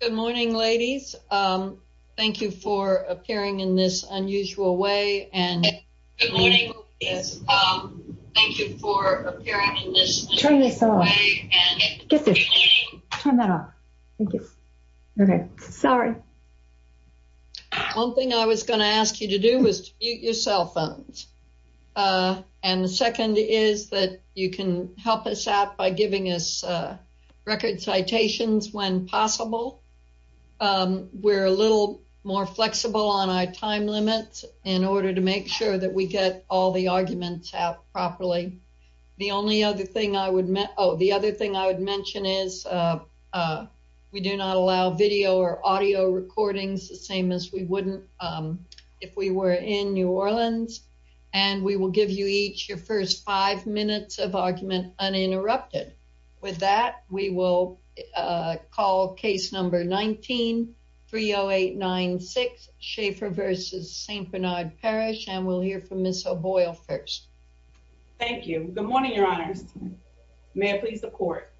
Good morning, ladies. Thank you for appearing in this unusual way. One thing I was going to ask you to do was to mute your cell phones. And the second is that you can help us out by giving us record citations when possible. We're a little more flexible on our time limits in order to make sure that we get all the arguments out properly. The other thing I would mention is we do not allow video or audio recordings, the same as we wouldn't if we were in New Orleans. And we will give you each your first five minutes of argument uninterrupted. With that, we will call case number 19-30896, Schaefer v. St. Bernard Parish, and we'll hear from Ms. O'Boyle first. Thank you. Good morning, Your Honors. May I please report?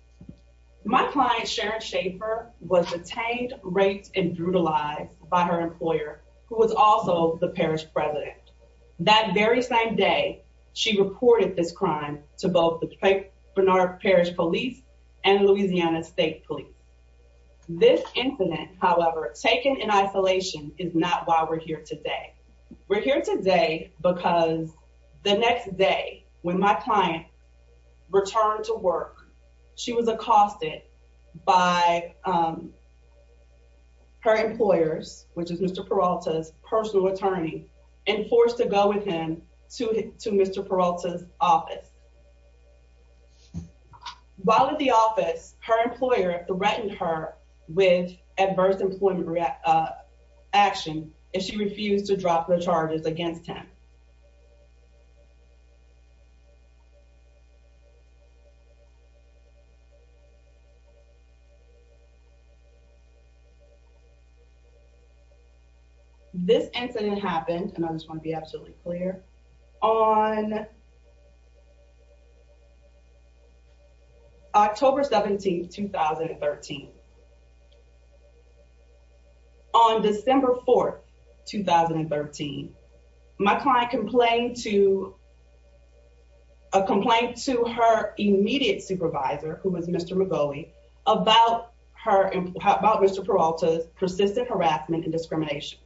My client, Sharon Schaefer, was detained, raped, and brutalized by her employer, who was also the parish president. That very same day, she reported this crime to both the St. Bernard Parish Police and Louisiana State Police. This incident, however, taken in isolation, is not why we're here today. We're here today because the next day, when my client returned to work, she was accosted by her employers, which is Mr. Peralta's personal attorney, and forced to go with him to Mr. Peralta's office. While at the office, her employer threatened her with adverse employment action, and she refused to drop the charges against him. This incident happened, and I just want to be absolutely clear, on October 17, 2013. On December 4, 2013, my client complained to her immediate supervisor, who was Mr. Magoli, about Mr. Peralta's persistent harassment and discrimination.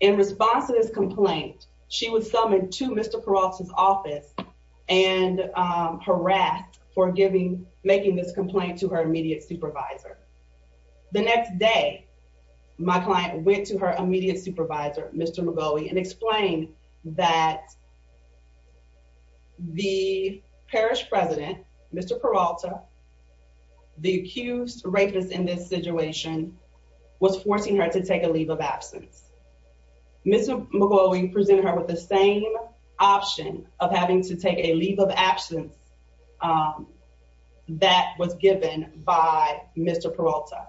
In response to this complaint, she was summoned to Mr. Peralta's office and harassed for making this complaint to her immediate supervisor. The next day, my client went to her immediate supervisor, Mr. Magoli, and explained that the parish president, Mr. Peralta, the accused rapist in this situation, was forcing her to take a leave of absence. Mr. Magoli presented her with the same option of having to take a leave of absence that was given by Mr. Peralta.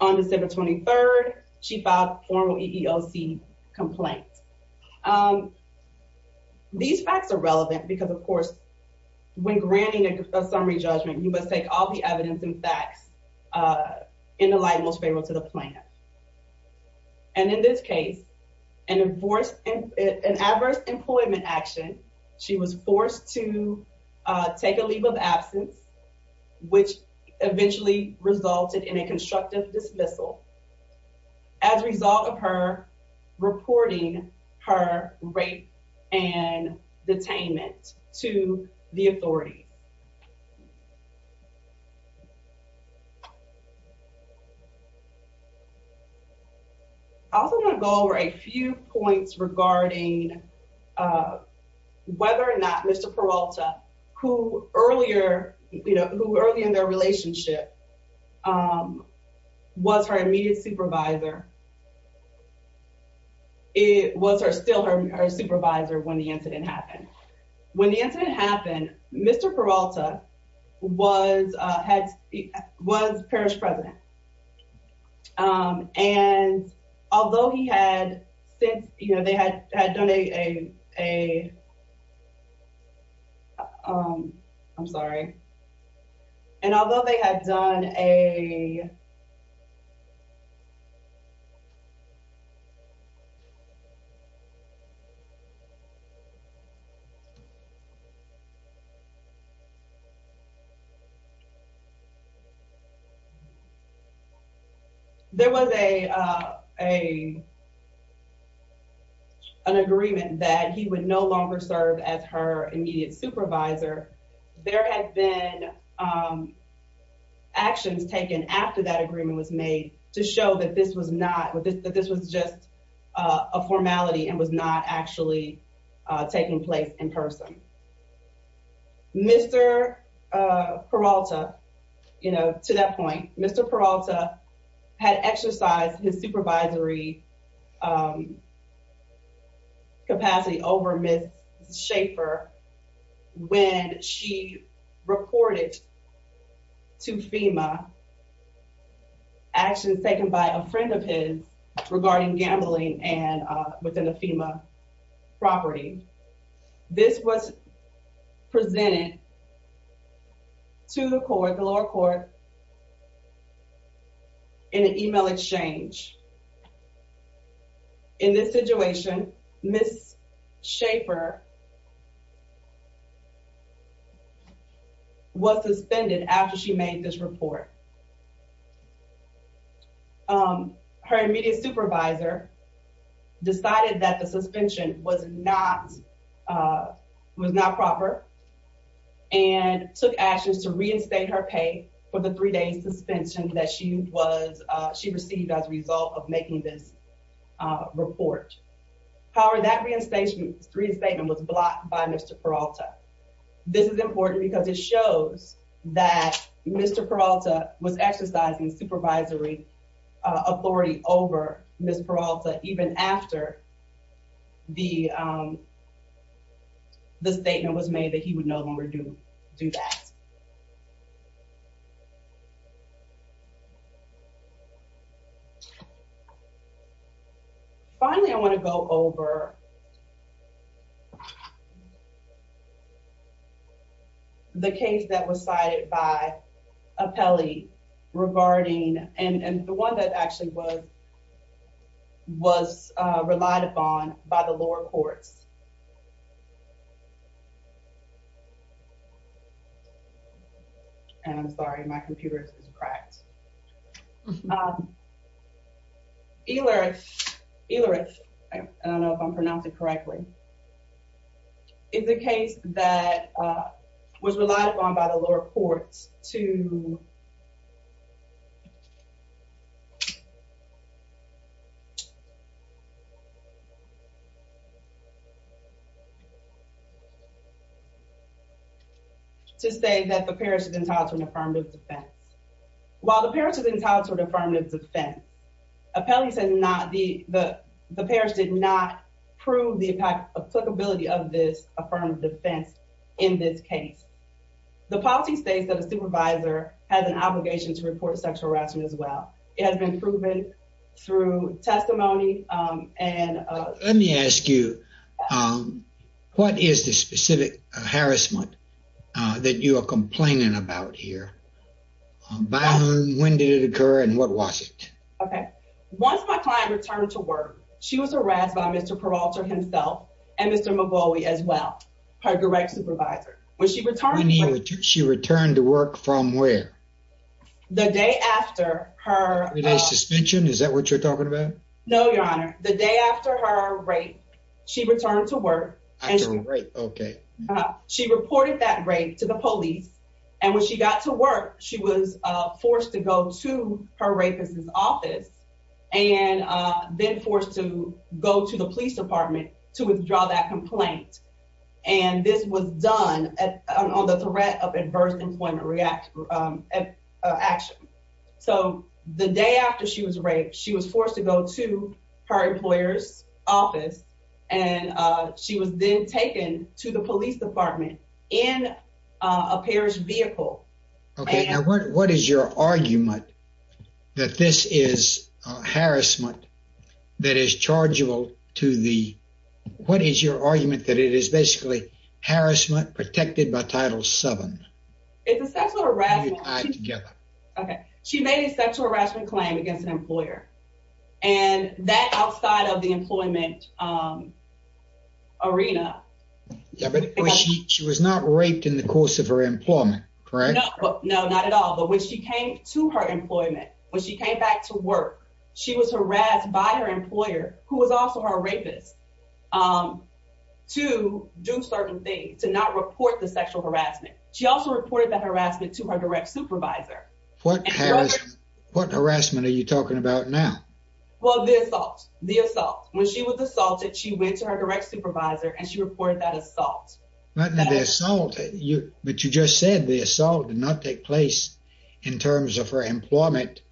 On December 23, she filed a formal EEOC complaint. These facts are relevant because, of course, when granting a summary judgment, you must take all the evidence and facts in the light most favorable to the plaintiff. And in this case, an adverse employment action, she was forced to take a leave of absence, which eventually resulted in a constructive dismissal. As a result of her reporting her rape and detainment to the authorities. I also want to go over a few points regarding whether or not Mr. Peralta, who earlier in their relationship was her immediate supervisor, was still her supervisor when the incident happened. When the incident happened, Mr. Peralta was parish president. And although he had since, you know, they had had done a. I'm sorry. And although they had done a. There was a. An agreement that he would no longer serve as her immediate supervisor. There have been actions taken after that agreement was made to show that this was not that this was just a formality and was not actually taking place in person. Mr. Peralta, you know, to that point, Mr. Peralta had exercised his supervisory. Capacity over Ms. Schaefer when she reported to FEMA actions taken by a friend of his regarding gambling and within a FEMA property. This was presented to the court, the lower court. In an email exchange. In this situation, Ms. Schaefer. Was suspended after she made this report. Her immediate supervisor decided that the suspension was not was not proper and took actions to reinstate her pay for the three days suspension that she was she received as a result of making this report. However, that reinstatement three statement was blocked by Mr. Peralta. This is important because it shows that Mr. Peralta was exercising supervisory authority over Ms. Peralta even after. The. The statement was made that he would no longer do do that. Finally, I want to go over. The case that was cited by Apelli regarding and the one that actually was. Was relied upon by the lower courts. And I'm sorry, my computer is cracked. My. Euler Euler. I don't know if I'm pronouncing correctly. In the case that was relied upon by the lower courts to. To say that the parish is entitled to an affirmative defense. While the parish is entitled to an affirmative defense. Apelli said not the the the parish did not prove the applicability of this affirmative defense in this case. The policy states that a supervisor has an obligation to report sexual harassment as well. It has been proven through testimony. And let me ask you. What is the specific harassment that you are complaining about here? By whom? When did it occur? And what was it? Okay. Once my client returned to work, she was harassed by Mr. Peralta himself and Mr. Magui as well. Her direct supervisor. When she returned, she returned to work from where? The day after her suspension. Is that what you're talking about? No, your honor. The day after her rape, she returned to work. Okay. She reported that rape to the police. And when she got to work, she was forced to go to her rapist's office and then forced to go to the police department to withdraw that complaint. And this was done on the threat of adverse employment reaction action. So the day after she was raped, she was forced to go to her employer's office and she was then taken to the police department in a parish vehicle. Okay. Now, what is your argument that this is harassment that is chargeable to the, what is your argument that it is basically harassment protected by Title VII? It's a sexual harassment. Okay. She made a sexual harassment claim against an employer and that outside of the employment arena. She was not raped in the course of her employment, correct? No, not at all. But when she came to her employment, when she came back to work, she was harassed by her employer, who was also her rapist, to do certain things, to not report the sexual harassment. She also reported that harassment to her direct supervisor. What harassment are you talking about now? Well, the assault. The assault. When she was assaulted, she went to her direct supervisor and she reported that assault. But the assault, but you just said the assault did not take place in terms of her employment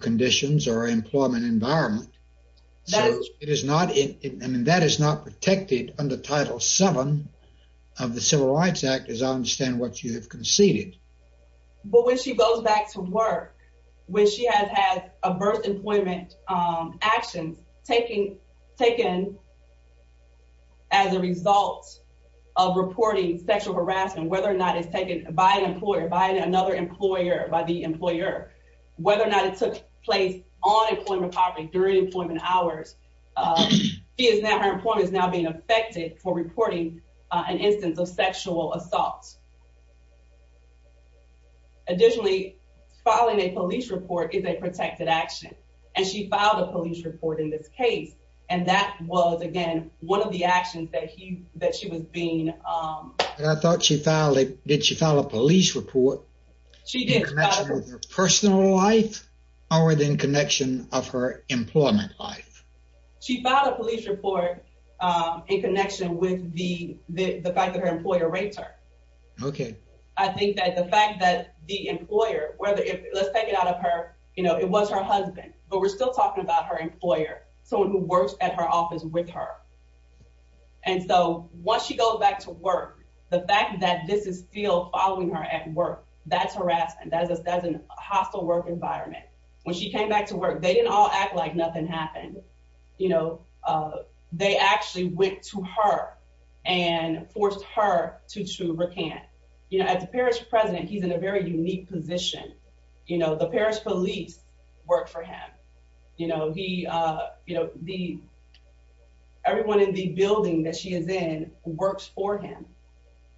conditions or employment environment. So it is not, I mean, that is not protected under Title VII of the Civil Rights Act as I understand what you have conceded. But when she goes back to work, when she has had adverse employment actions taken as a result of reporting sexual harassment, whether or not it's taken by an employer, by another employer, by the employer, whether or not it took place on employment property, during employment hours, her employment is now being affected for reporting an instance of sexual assault. Additionally, filing a police report is a protected action. And she filed a police report in this case. And that was, again, one of the actions that she was being... I thought she filed a police report in connection with her personal life or in connection with her employment life? She filed a police report in connection with the fact that her employer raped her. Okay. And that the employer, let's take it out of her, it was her husband, but we're still talking about her employer, someone who works at her office with her. And so once she goes back to work, the fact that this is still following her at work, that's harassment. That's a hostile work environment. When she came back to work, they didn't all act like nothing happened. They actually went to her and forced her to recant. As a parish president, he's in a very unique position. The parish police work for him. Everyone in the building that she is in works for him.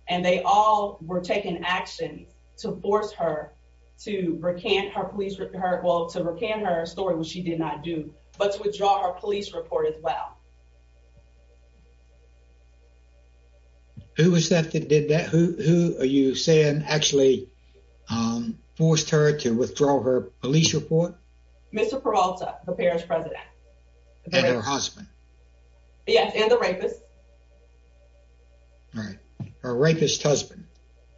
And they all were taking action to force her to recant her story, which she did not do, but to withdraw her police report as well. Who was that that did that? Who are you saying actually forced her to withdraw her police report? Mr. Peralta, the parish president. And her husband? Yes, and the rapist. All right. Her rapist husband?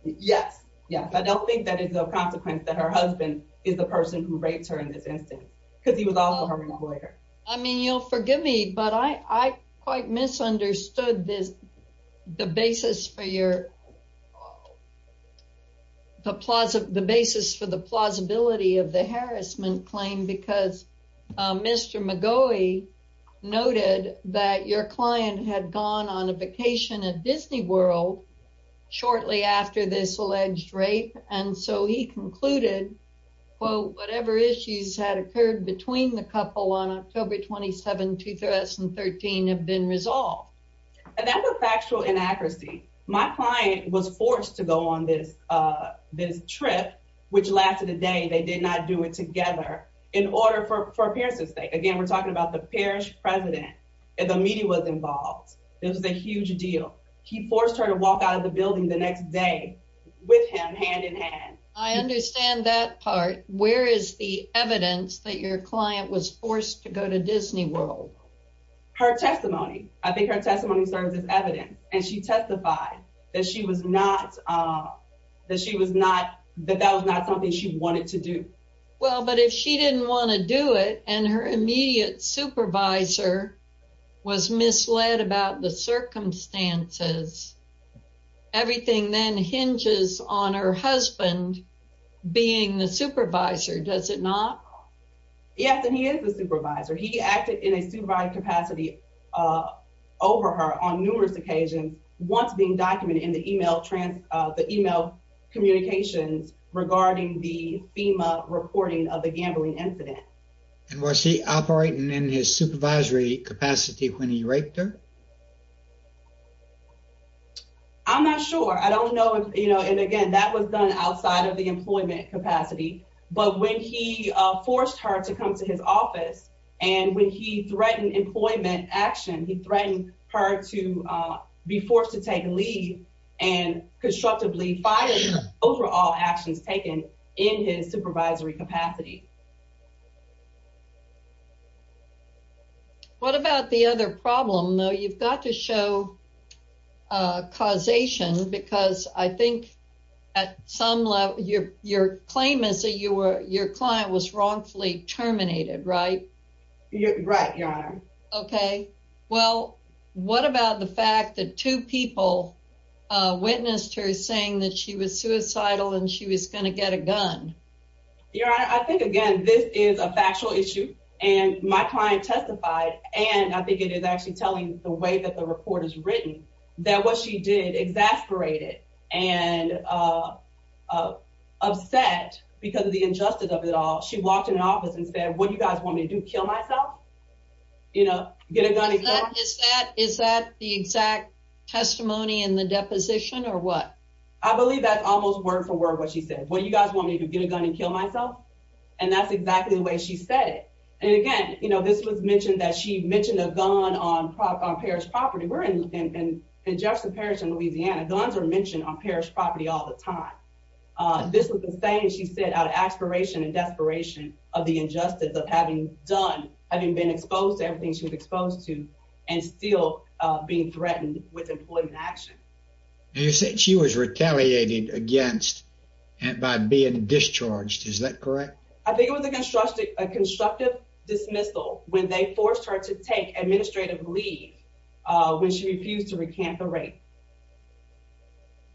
Yes, yes. I don't think that is a consequence that her husband is the person who raped her in this instance, because he was also her employer. I mean, you'll forgive me, but I quite misunderstood the basis for the plausibility of the harassment claim. Because Mr. McGaughy noted that your client had gone on a vacation at Disney World shortly after this alleged rape. And so he concluded, quote, whatever issues had occurred between the couple on October 27, 2013 have been resolved. And that was factual inaccuracy. My client was forced to go on this trip, which lasted a day. They did not do it together in order for her parents to stay. Again, we're talking about the parish president. And the media was involved. It was a huge deal. He forced her to walk out of the building the next day with him, hand in hand. I understand that part. Where is the evidence that your client was forced to go to Disney World? Her testimony. I think her testimony serves as evidence. And she testified that that was not something she wanted to do. Well, but if she didn't want to do it and her immediate supervisor was misled about the circumstances, everything then hinges on her husband being the supervisor, does it not? Yes, and he is the supervisor. He acted in a supervised capacity over her on numerous occasions, once being documented in the email communications regarding the FEMA reporting of the gambling incident. And was he operating in his supervisory capacity when he raped her? I'm not sure. I don't know. And again, that was done outside of the employment capacity. But when he forced her to come to his office and when he threatened employment action, he threatened her to be forced to take leave and constructively fired her over all actions taken in his supervisory capacity. What about the other problem? You've got to show causation because I think at some level your claim is that your client was wrongfully terminated, right? Right, Your Honor. Well, what about the fact that two people witnessed her saying that she was suicidal and she was going to get a gun? Your Honor, I think, again, this is a factual issue and my client testified and I think it is actually telling the way that the report is written that what she did, exasperated and upset because of the injustice of it all. She walked into an office and said, what do you guys want me to do, kill myself? You know, get a gun in court? Is that the exact testimony in the deposition or what? I believe that's almost word for word what she said. What do you guys want me to do, get a gun and kill myself? And that's exactly the way she said it. And again, you know, this was mentioned that she mentioned a gun on parish property. We're in Jefferson Parish in Louisiana. Guns are mentioned on parish property all the time. This was the same she said out of aspiration and desperation of the injustice of having been exposed to everything she was exposed to and still being threatened with employment action. You said she was retaliated against by being discharged. Is that correct? I think it was a constructive dismissal when they forced her to take administrative leave when she refused to recant the rape.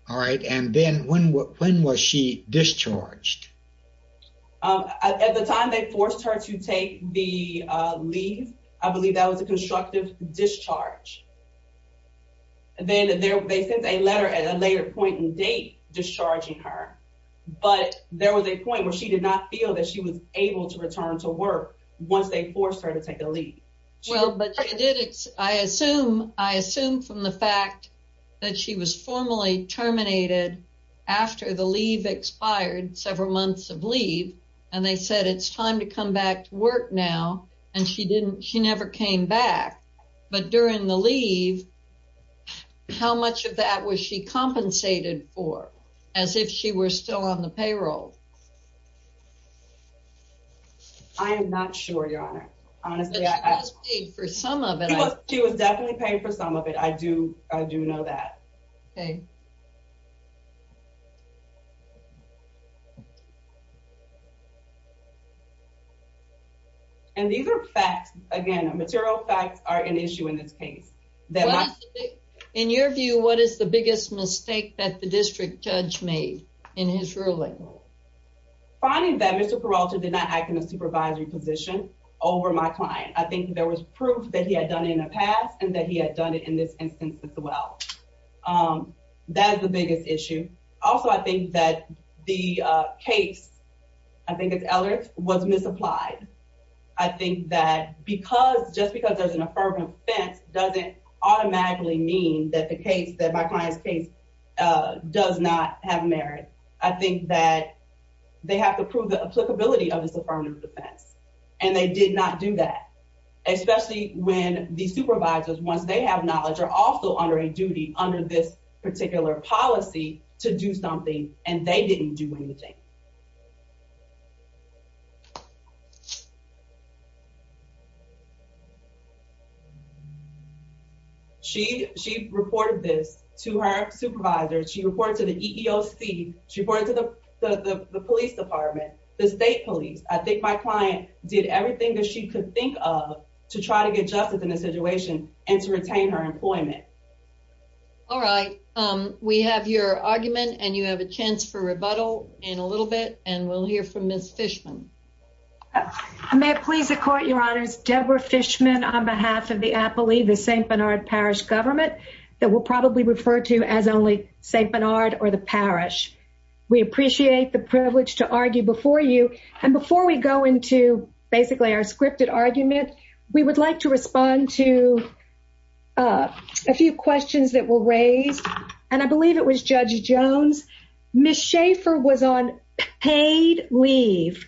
All right. And then when when was she discharged? At the time they forced her to take the leave. I believe that was a constructive discharge. And then they sent a letter at a later point in date discharging her. But there was a point where she did not feel that she was able to return to work once they forced her to take the leave. Well, but I assume I assume from the fact that she was formally terminated after the leave expired several months of leave. And they said it's time to come back to work now. And she didn't she never came back. But during the leave, how much of that was she compensated for as if she were still on the payroll? I am not sure, Your Honor. She was paid for some of it. She was definitely paid for some of it. I do. I do know that. Okay. And these are facts, again, material facts are an issue in this case. In your view, what is the biggest mistake that the district judge made in his ruling? Finding that Mr. Peralta did not act in a supervisory position over my client. I think there was proof that he had done in the past and that he had done it in this instance as well. That is the biggest issue. Also, I think that the case, I think it's Eldridge, was misapplied. I think that because just because there's an affirmative defense doesn't automatically mean that the case that my client's case does not have merit. I think that they have to prove the applicability of this affirmative defense. And they did not do that. Especially when the supervisors, once they have knowledge, are also under a duty under this particular policy to do something. And they didn't do anything. She reported this to her supervisors. She reported to the EEOC. She reported to the police department, the state police. I think my client did everything that she could think of to try to get justice in this situation and to retain her employment. All right. We have your argument and you have a chance for rebuttal in a little bit. And we'll hear from Ms. Fishman. I may please the court, Your Honors. Deborah Fishman on behalf of the Appley, the St. Bernard Parish government that we'll probably refer to as only St. Bernard or the parish. We appreciate the privilege to argue before you. And before we go into basically our scripted argument, we would like to respond to a few questions that were raised. And I believe it was Judge Jones. Ms. Schaefer was on paid leave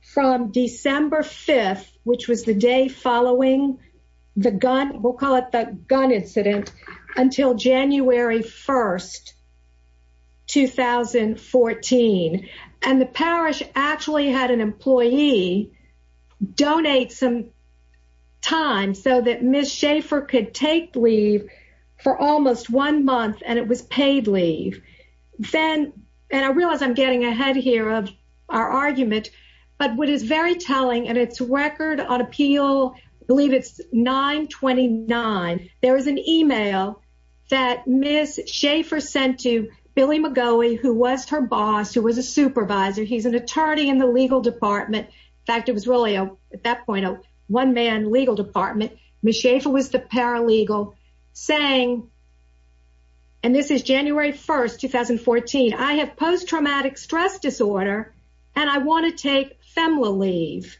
from December 5th, which was the day following the gun, we'll call it the gun incident, until January 1st, 2014. And the parish actually had an employee donate some time so that Ms. Schaefer could take leave for almost one month. And it was paid leave. And I realize I'm getting ahead here of our argument. But what is very telling, and it's record on appeal, I believe it's 929. There was an email that Ms. Schaefer sent to Billy McGowey, who was her boss, who was a supervisor. He's an attorney in the legal department. In fact, it was really, at that point, a one-man legal department. Ms. Schaefer was the paralegal saying, and this is January 1st, 2014, I have post-traumatic stress disorder and I want to take FEMLA leave.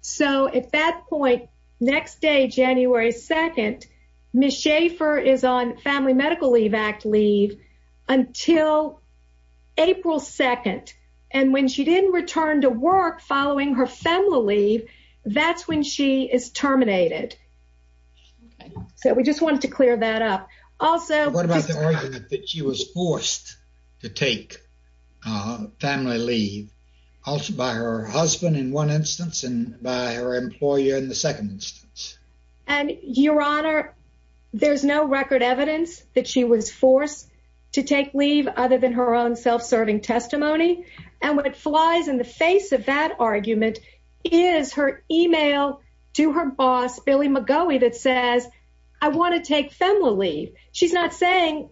So at that point, next day, January 2nd, Ms. Schaefer is on Family Medical Leave Act leave until April 2nd. And when she didn't return to work following her FEMLA leave, that's when she is terminated. So we just wanted to clear that up. What about the argument that she was forced to take FEMLA leave by her husband in one instance and by her employer in the second instance? Your Honor, there's no record evidence that she was forced to take leave other than her own self-serving testimony. And what flies in the face of that argument is her email to her boss, Billy McGowey, that says, I want to take FEMLA leave. She's not saying,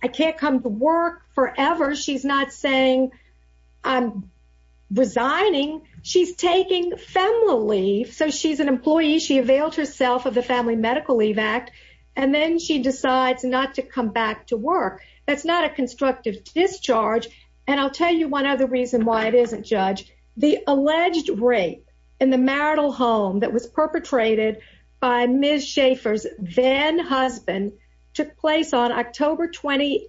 I can't come to work forever. She's not saying, I'm resigning. She's taking FEMLA leave. So she's an employee, she availed herself of the Family Medical Leave Act, and then she decides not to come back to work. That's not a constructive discharge. And I'll tell you one other reason why it isn't, Judge. The alleged rape in the marital home that was perpetrated by Ms. Schaefer's then-husband took place on October 28,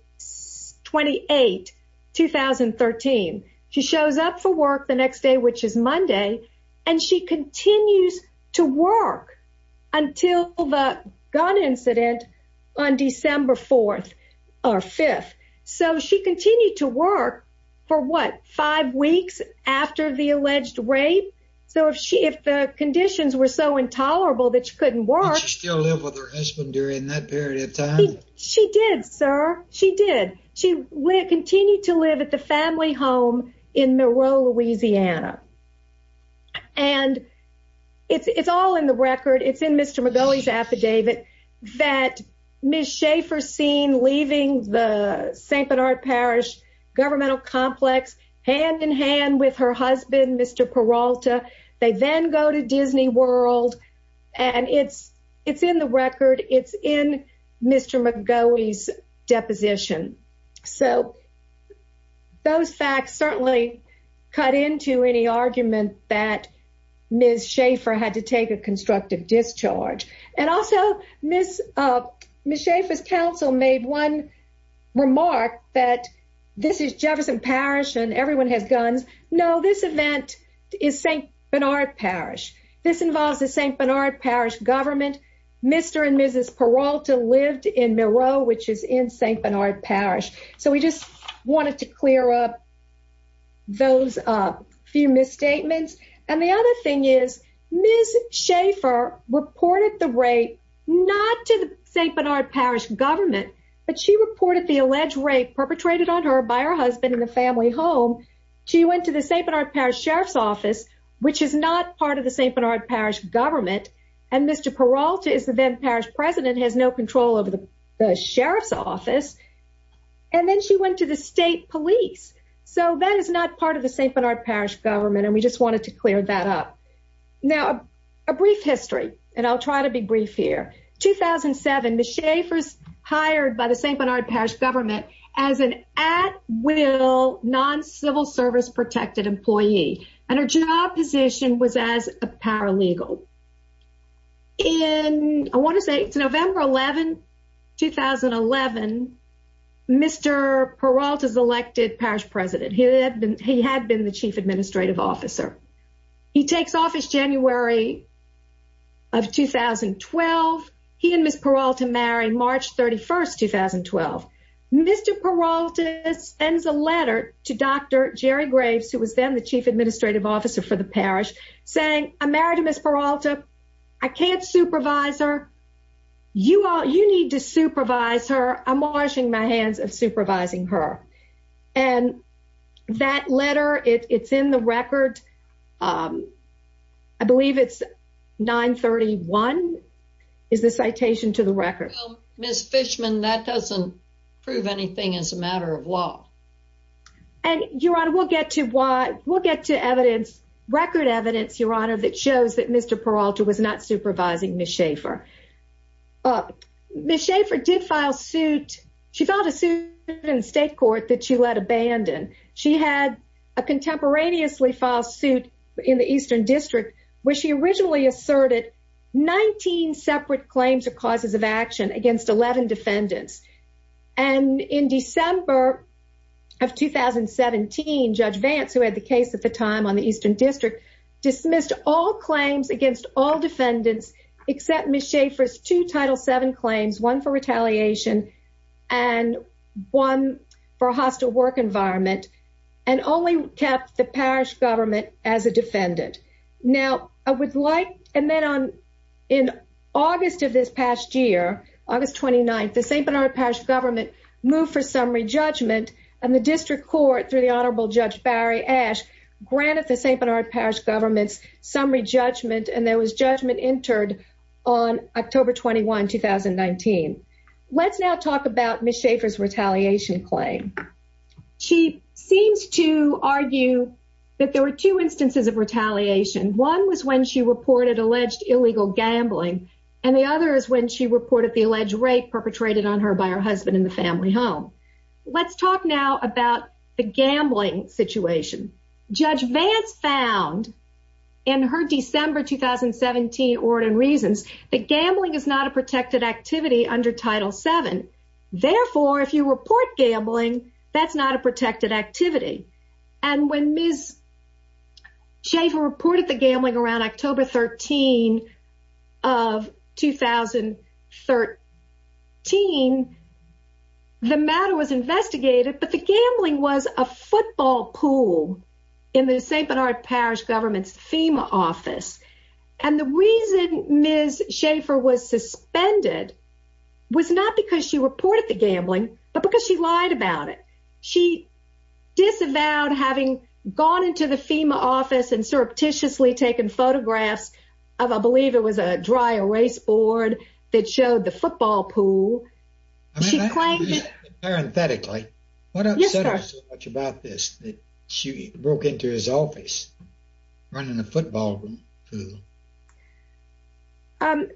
2013. She shows up for work the next day, which is Monday, and she continues to work until the gun incident on December 4th or 5th. So she continued to work for, what, five weeks after the alleged rape? So if the conditions were so intolerable that she couldn't work... Did she still live with her husband during that period of time? She did, sir. She did. She continued to live at the family home in Monroe, Louisiana. And it's all in the record. It's in Mr. McGoughy's affidavit that Ms. Schaefer's seen leaving the St. Bernard Parish governmental complex hand-in-hand with her husband, Mr. Peralta. They then go to Disney World, and it's in the record. It's in Mr. McGoughy's deposition. So those facts certainly cut into any argument that Ms. Schaefer had to take a constructive discharge. And also, Ms. Schaefer's counsel made one remark that this is Jefferson Parish and everyone has guns. No, this event is St. Bernard Parish. This involves the St. Bernard Parish government. Mr. and Mrs. Peralta lived in Monroe, which is in St. Bernard Parish. So we just wanted to clear up those few misstatements. And the other thing is, Ms. Schaefer reported the rape not to the St. Bernard Parish government, but she reported the alleged rape perpetrated on her by her husband in the family home. She went to the St. Bernard Parish Sheriff's Office, which is not part of the St. Bernard Parish government. And Mr. Peralta is the then Parish president, has no control over the Sheriff's Office. And then she went to the state police. So that is not part of the St. Bernard Parish government, and we just wanted to clear that up. Now, a brief history, and I'll try to be brief here. 2007, Ms. Schaefer's hired by the St. Bernard Parish government as an at-will, non-civil-service-protected employee. And her job position was as a paralegal. In, I want to say it's November 11, 2011, Mr. Peralta's elected parish president. He had been the chief administrative officer. He takes office January of 2012. He and Ms. Peralta marry March 31, 2012. Mr. Peralta sends a letter to Dr. Jerry Graves, who was then the chief administrative officer for the parish, saying, I'm married to Ms. Peralta. I can't supervise her. You need to supervise her. I'm washing my hands of supervising her. And that letter, it's in the record. I believe it's 931, is the citation to the record. Well, Ms. Fishman, that doesn't prove anything as a matter of law. And, Your Honor, we'll get to evidence, record evidence, Your Honor, that shows that Mr. Peralta was not supervising Ms. Schaefer. Ms. Schaefer did file suit. She filed a suit in the state court that she let abandon. She had a contemporaneously filed suit in the Eastern District, where she originally asserted 19 separate claims of causes of action against 11 defendants. And in December of 2017, Judge Vance, who had the case at the time on the Eastern District, dismissed all claims against all defendants, except Ms. Schaefer's two Title VII claims, one for retaliation and one for a hostile work environment, and only kept the parish government as a defendant. Now, I would like, and then on, in August of this past year, August 29th, the St. Bernard Parish government moved for summary judgment, and the district court, through the Honorable Judge Barry Ash, granted the St. Bernard Parish government's summary judgment, and there was judgment entered on October 21, 2019. Let's now talk about Ms. Schaefer's retaliation claim. She seems to argue that there were two instances of retaliation. One was when she reported alleged illegal gambling, and the other is when she reported the alleged rape perpetrated on her by her husband in the family home. Let's talk now about the gambling situation. Judge Vance found, in her December 2017 Ordin and Reasons, that gambling is not a protected activity under Title VII. Therefore, if you report gambling, that's not a protected activity. And when Ms. Schaefer reported the gambling around October 13 of 2013, the matter was investigated, but the gambling was a football pool in the St. Bernard Parish government's FEMA office. And the reason Ms. Schaefer was suspended was not because she reported the gambling, but because she lied about it. She disavowed having gone into the FEMA office and surreptitiously taken photographs of, I believe it was a dry erase board that showed the football pool. Parenthetically, what upset her so much about this that she broke into his office running a football pool?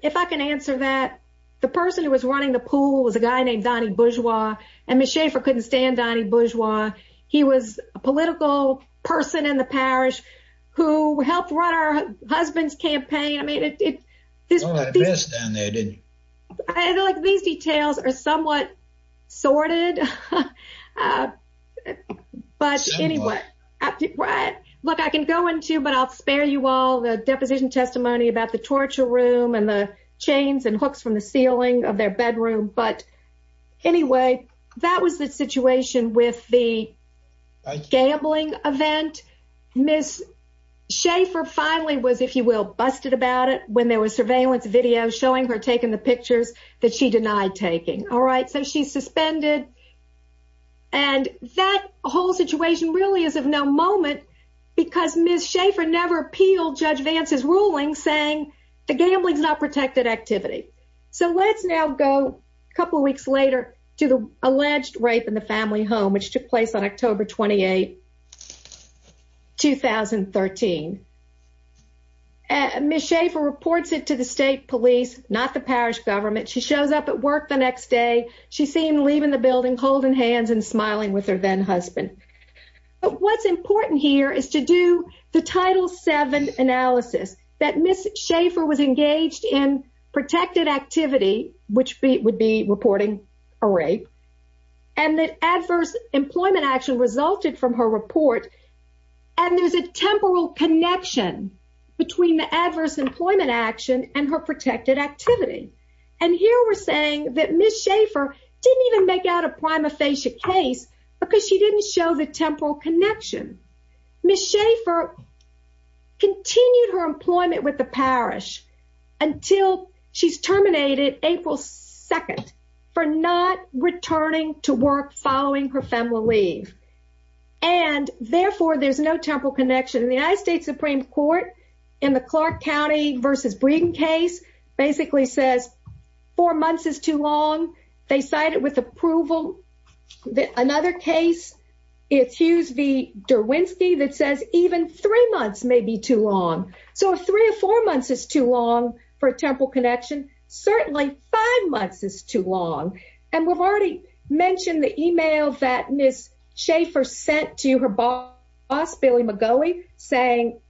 If I can answer that, the person who was running the pool was a guy named Donnie Bourgeois, and Ms. Schaefer couldn't stand Donnie Bourgeois. He was a political person in the parish who helped run her husband's campaign. You saw that mess down there, didn't you? I feel like these details are somewhat sorted, but anyway. Look, I can go into, but I'll spare you all the deposition testimony about the torture room and the chains and hooks from the ceiling of their bedroom. But anyway, that was the situation with the gambling event. Ms. Schaefer finally was, if you will, busted about it when there was surveillance video showing her taking the pictures that she denied taking. All right, so she's suspended. And that whole situation really is of no moment because Ms. Schaefer never appealed Judge Vance's ruling saying the gambling is not protected activity. So let's now go a couple of weeks later to the alleged rape in the family home, which took place on October 28, 2013. Ms. Schaefer reports it to the state police, not the parish government. She shows up at work the next day. She seemed leaving the building, holding hands and smiling with her then-husband. But what's important here is to do the Title VII analysis. That Ms. Schaefer was engaged in protected activity, which would be reporting a rape. And that adverse employment action resulted from her report. And there's a temporal connection between the adverse employment action and her protected activity. And here we're saying that Ms. Schaefer didn't even make out a prima facie case because she didn't show the temporal connection. Ms. Schaefer continued her employment with the parish until she's terminated April 2nd for not returning to work following her family leave. And therefore, there's no temporal connection. The United States Supreme Court, in the Clark County v. Breeden case, basically says four months is too long. They cite it with approval. Another case, it's Hughes v. Derwinski that says even three months may be too long. So if three or four months is too long for a temporal connection, certainly five months is too long. And we've already mentioned the email that Ms. Schaefer sent to her boss, Billy McGoey, saying,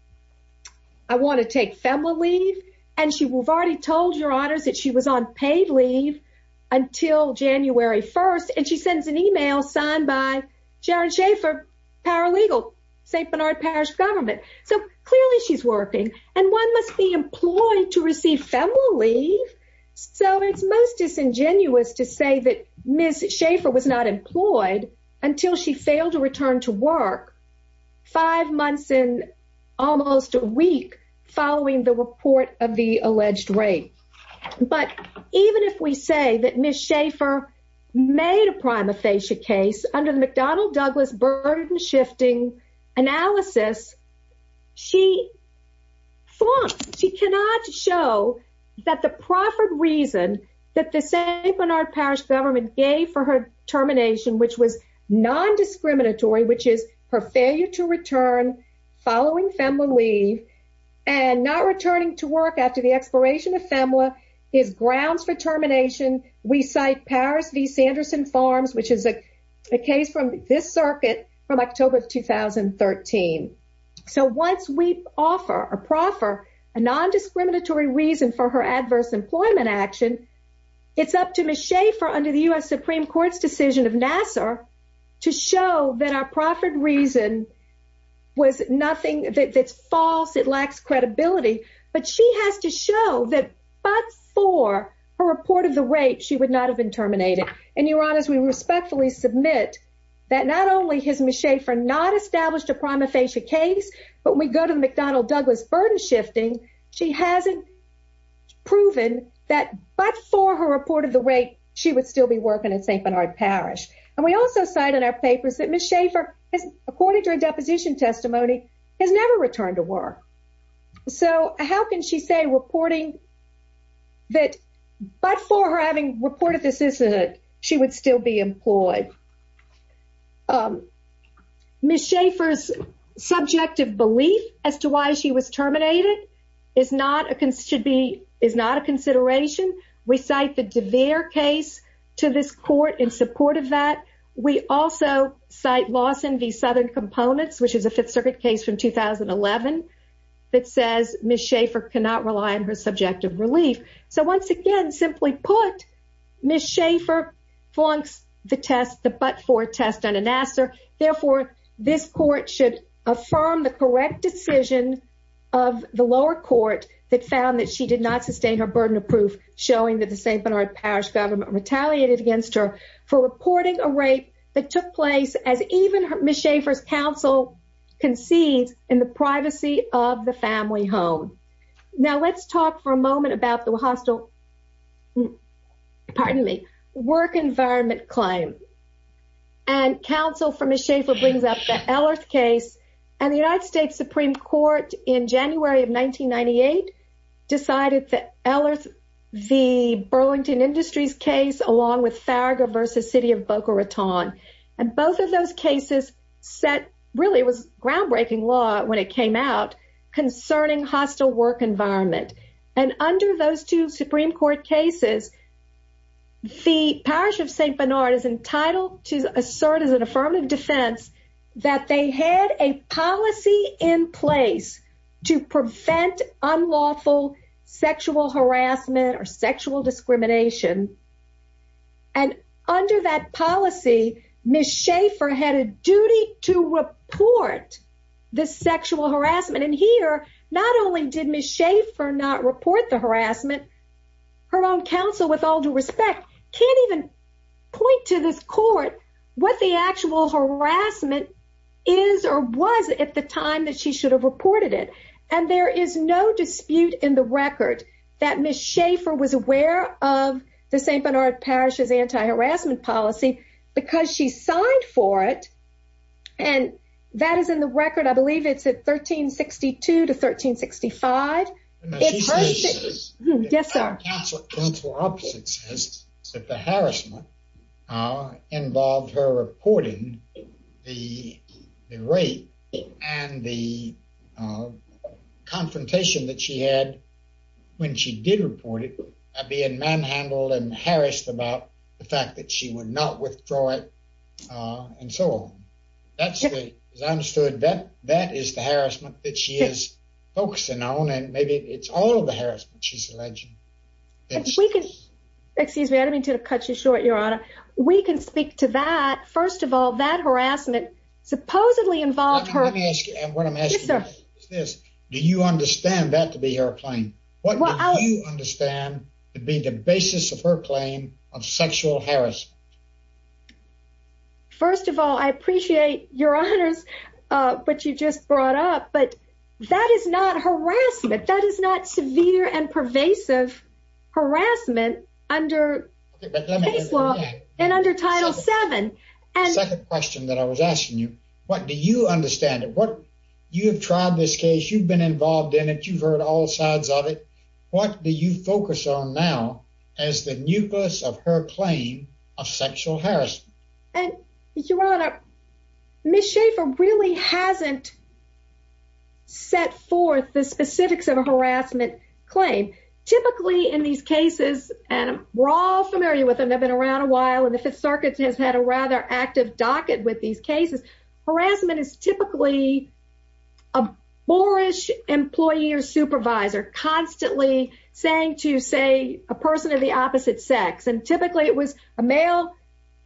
I want to take FEMA leave. And she already told your honors that she was on paid leave until January 1st. And she sends an email signed by Jaron Schaefer, paralegal, St. Bernard Parish Government. So clearly she's working. And one must be employed to receive FEMA leave. So it's most disingenuous to say that Ms. Schaefer was not employed until she failed to return to work five months in almost a week following the report of the alleged rape. But even if we say that Ms. Schaefer made a prima facie case under the McDonnell-Douglas burden-shifting analysis, she cannot show that the proffered reason that the St. Bernard Parish Government gave for her termination, which was non-discriminatory, which is her failure to return following FEMA leave, and not returning to work after the expiration of FEMA, is grounds for termination. We cite Powers v. Sanderson Farms, which is a case from this circuit from October 2013. So once we offer or proffer a non-discriminatory reason for her adverse employment action, it's up to Ms. Schaefer under the U.S. Supreme Court's decision of Nassar to show that our proffered reason was nothing that's false, it lacks credibility, but she has to show that but for her report of the rape, she would not have been terminated. And Your Honors, we respectfully submit that not only has Ms. Schaefer not established a prima facie case, but when we go to the McDonnell-Douglas burden-shifting, she hasn't proven that but for her report of the rape, she would still be working at St. Bernard Parish. And we also cite in our papers that Ms. Schaefer, according to her deposition testimony, has never returned to work. So how can she say reporting that but for her having reported the sisterhood, she would still be employed? Ms. Schaefer's subjective belief as to why she was terminated is not a consideration. We cite the DeVere case to this court in support of that. We also cite Lawson v. Southern Components, which is a Fifth Circuit case from 2011, that says Ms. Schaefer cannot rely on her subjective relief. So once again, simply put, Ms. Schaefer flunks the test, the but for test under Nassar. Therefore, this court should affirm the correct decision of the lower court that found that she did not sustain her burden of proof, showing that the St. Bernard Parish government retaliated against her for reporting a rape that took place as even Ms. Schaefer's counsel concedes in the privacy of the family home. Now let's talk for a moment about the work environment claim. And counsel for Ms. Schaefer brings up the Ellerth case. And the United States Supreme Court in January of 1998 decided that Ellerth, the Burlington Industries case, along with Farragher v. City of Boca Raton. And both of those cases set, really it was groundbreaking law when it came out, concerning hostile work environment. And under those two Supreme Court cases, the Parish of St. Bernard is entitled to assert as an affirmative defense that they had a policy in place to prevent unlawful sexual harassment or sexual discrimination. And under that policy, Ms. Schaefer had a duty to report the sexual harassment. And here, not only did Ms. Schaefer not report the harassment, her own counsel, with all due respect, can't even point to this court what the actual harassment is or was at the time that she should have reported it. And there is no dispute in the record that Ms. Schaefer was aware of the St. Bernard Parish's anti-harassment policy because she signed for it. And that is in the record, I believe it's at 1362 to 1365. Yes, sir. The counsel opposite says that the harassment involved her reporting the rape and the confrontation that she had when she did report it being manhandled and harassed about the fact that she would not withdraw it and so on. As I understood, that is the harassment that she is focusing on and maybe it's all of the harassment she's alleging. Excuse me, I don't mean to cut you short, Your Honor. We can speak to that. First of all, that harassment supposedly involved her... Let me ask you, and what I'm asking you is this. Do you understand that to be her claim? What do you understand to be the basis of her claim of sexual harassment? First of all, I appreciate your honors, what you just brought up. But that is not harassment. That is not severe and pervasive harassment under case law and under Title VII. The second question that I was asking you, what do you understand? You have tried this case. You've been involved in it. You've heard all sides of it. What do you focus on now as the nucleus of her claim of sexual harassment? Your Honor, Ms. Schaffer really hasn't set forth the specifics of a harassment claim. Typically in these cases, and we're all familiar with them. They've been around a while and the Fifth Circuit has had a rather active docket with these cases. Harassment is typically a boorish employee or supervisor constantly saying to, say, a person of the opposite sex. Typically it was a male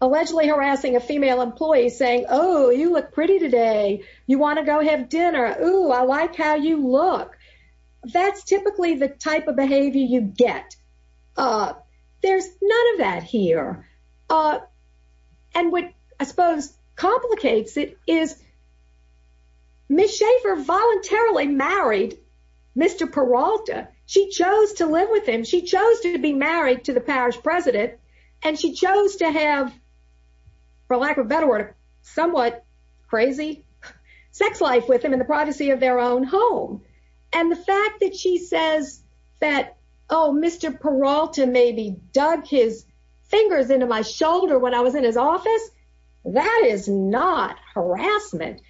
allegedly harassing a female employee saying, Oh, you look pretty today. You want to go have dinner? Oh, I like how you look. That's typically the type of behavior you get. There's none of that here. And what I suppose complicates it is Ms. Schaffer voluntarily married Mr. Peralta. She chose to live with him. She chose to be married to the parish president. And she chose to have, for lack of a better word, a somewhat crazy sex life with him in the privacy of their own home. And the fact that she says that, Oh, Mr. Peralta maybe dug his fingers into my shoulder when I was in his office. That is not harassment.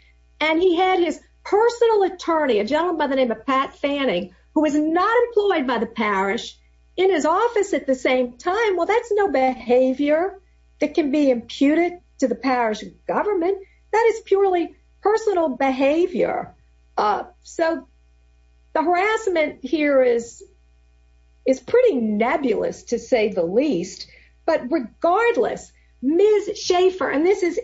And he had his personal attorney, a gentleman by the name of Pat Fanning, who was not employed by the parish in his office at the same time. Well, that's no behavior that can be imputed to the parish government. That is purely personal behavior. So the harassment here is pretty nebulous, to say the least. But regardless, Ms. Schaffer, and this is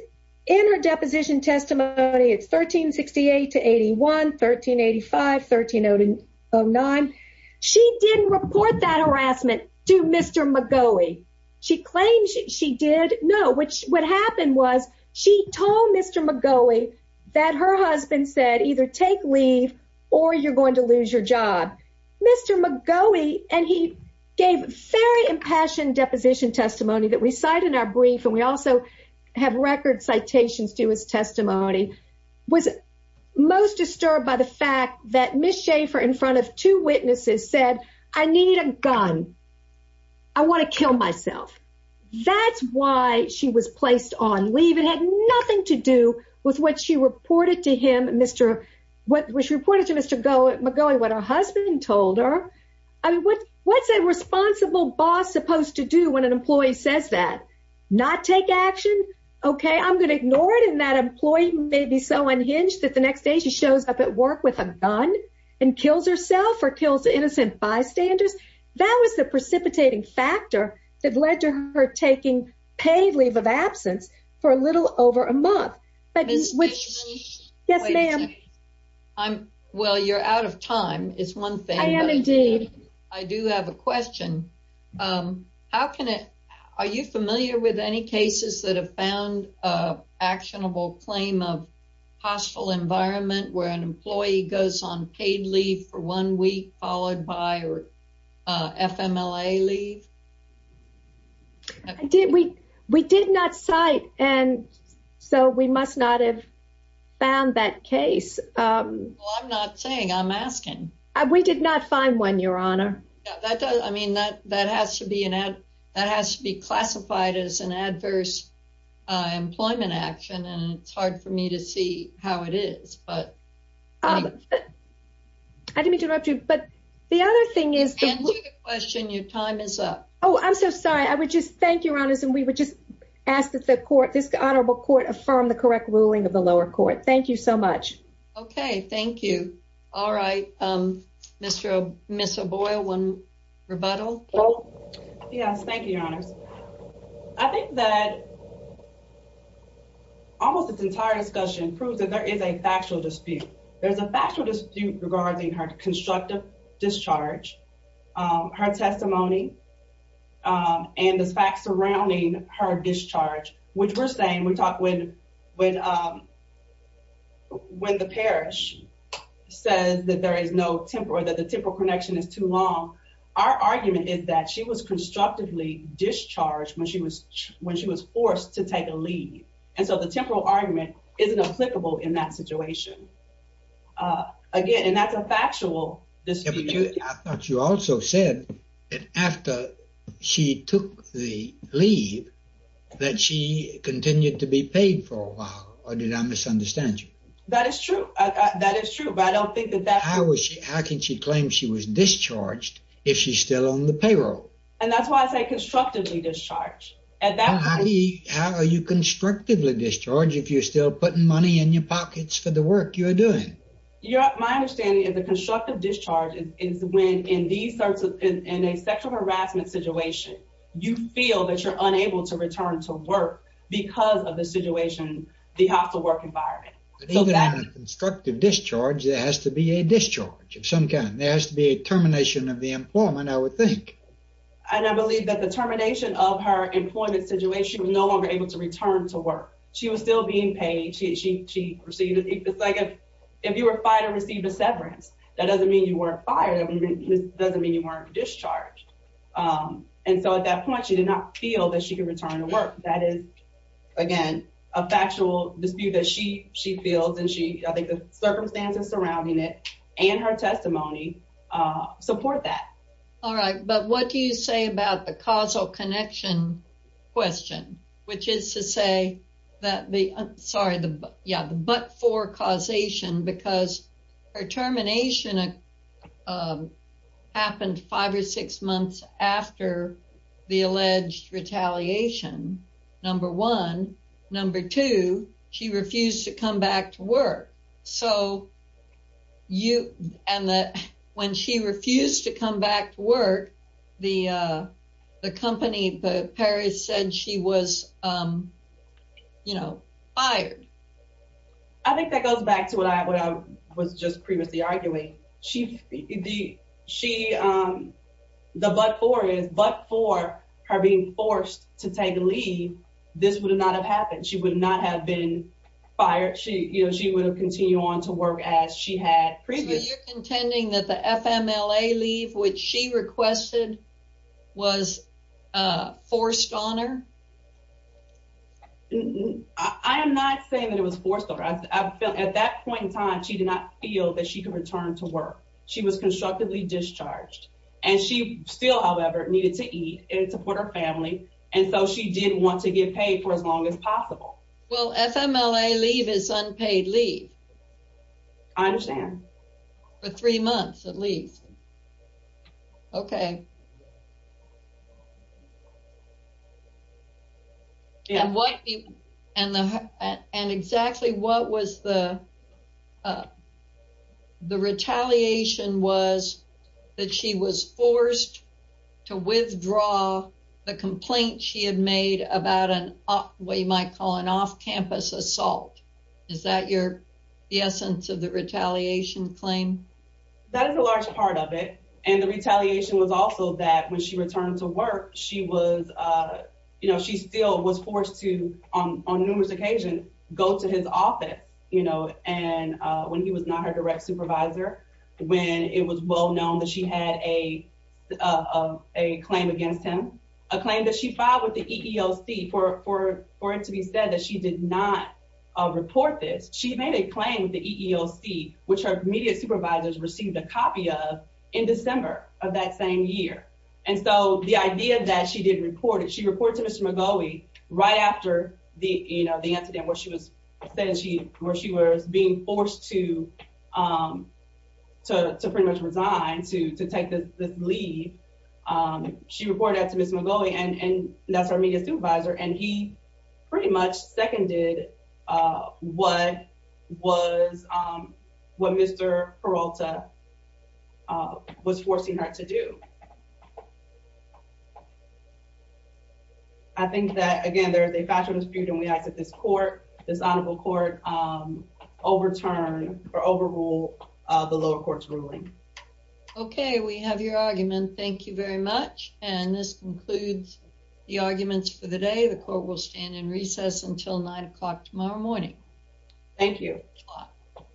in her deposition testimony. It's 1368 to 81, 1385, 1309. She didn't report that harassment to Mr. McGoughy. She claims she did. No, what happened was she told Mr. McGoughy that her husband said either take leave or you're going to lose your job. Mr. McGoughy, and he gave very impassioned deposition testimony that we cite in our brief, and we also have record citations to his testimony, was most disturbed by the fact that Ms. Schaffer, in front of two witnesses, said, I need a gun. I want to kill myself. That's why she was placed on leave. It had nothing to do with what she reported to Mr. McGoughy, what her husband told her. I mean, what's a responsible boss supposed to do when an employee says that? Not take action? Okay, I'm going to ignore it. And that employee may be so unhinged that the next day she shows up at work with a gun and kills herself or kills innocent bystanders. That was the precipitating factor that led to her taking paid leave of absence for a little over a month. Ms. Fishman. Yes, ma'am. Well, you're out of time is one thing. I do have a question. How can it? Are you familiar with any cases that have found actionable claim of hostile environment where an employee goes on paid leave for one week, followed by or FMLA leave? We did not cite, and so we must not have found that case. I'm not saying, I'm asking. We did not find one, Your Honor. I mean, that has to be classified as an adverse employment action, and it's hard for me to see how it is, but. I didn't mean to interrupt you, but the other thing is. Answer the question. Your time is up. Oh, I'm so sorry. I would just thank Your Honors, and we would just ask that this honorable court affirm the correct ruling of the lower court. Thank you so much. Okay, thank you. All right, Mr. Boyle, one rebuttal. Yes, thank you, Your Honors. I think that almost this entire discussion proves that there is a factual dispute. There's a factual dispute regarding her constructive discharge, her testimony, and the facts surrounding her discharge, which we're saying. When the parish says that the temporal connection is too long, our argument is that she was constructively discharged when she was forced to take a leave. And so the temporal argument isn't applicable in that situation. Again, and that's a factual dispute. I thought you also said that after she took the leave that she continued to be paid for a while, or did I misunderstand you? That is true. That is true, but I don't think that that's true. How can she claim she was discharged if she's still on the payroll? And that's why I say constructively discharged. How are you constructively discharged if you're still putting money in your pockets for the work you're doing? My understanding is a constructive discharge is when, in a sexual harassment situation, you feel that you're unable to return to work because of the situation, the hostile work environment. Even on a constructive discharge, there has to be a discharge of some kind. There has to be a termination of the employment, I would think. And I believe that the termination of her employment situation, she was no longer able to return to work. She was still being paid. It's like if you were fired or received a severance, that doesn't mean you weren't fired. It doesn't mean you weren't discharged. And so at that point, she did not feel that she could return to work. That is, again, a factual dispute that she feels, and I think the circumstances surrounding it and her testimony support that. All right, but what do you say about the causal connection question? Which is to say, the but-for causation, because her termination happened five or six months after the alleged retaliation, number one. Number two, she refused to come back to work. So when she refused to come back to work, the company, the Paris said she was fired. I think that goes back to what I was just previously arguing. The but-for is, but for her being forced to take leave, this would not have happened. She would not have been fired. She would have continued on to work as she had previously. So you're contending that the FMLA leave, which she requested, was forced on her? I am not saying that it was forced on her. At that point in time, she did not feel that she could return to work. She was constructively discharged. And so she did want to get paid for as long as possible. Well, FMLA leave is unpaid leave. I understand. Okay. And exactly what was the retaliation was that she was forced to withdraw the complaint she had made about what you might call an off-campus assault. Is that the essence of the retaliation claim? That is a large part of it. And the retaliation was also that when she returned to work, she still was forced to, on numerous occasions, go to his office. And when he was not her direct supervisor, when it was well known that she had a claim against him, a claim that she filed with the EEOC for it to be said that she did not report this. She made a claim with the EEOC, which her immediate supervisors received a copy of in December of that same year. And so the idea that she didn't report it, she reported to Mr. McGaughy right after the incident where she was being forced to pretty much resign, to take this leave. She reported that to Mr. McGaughy, and that's her immediate supervisor, and he pretty much seconded what Mr. Peralta was forcing her to do. I think that, again, there is a factual dispute, and we ask that this honorable court overturn or overrule the lower court's ruling. Okay, we have your argument. Thank you very much. And this concludes the arguments for the day. The court will stand in recess until 9 o'clock tomorrow morning. Thank you.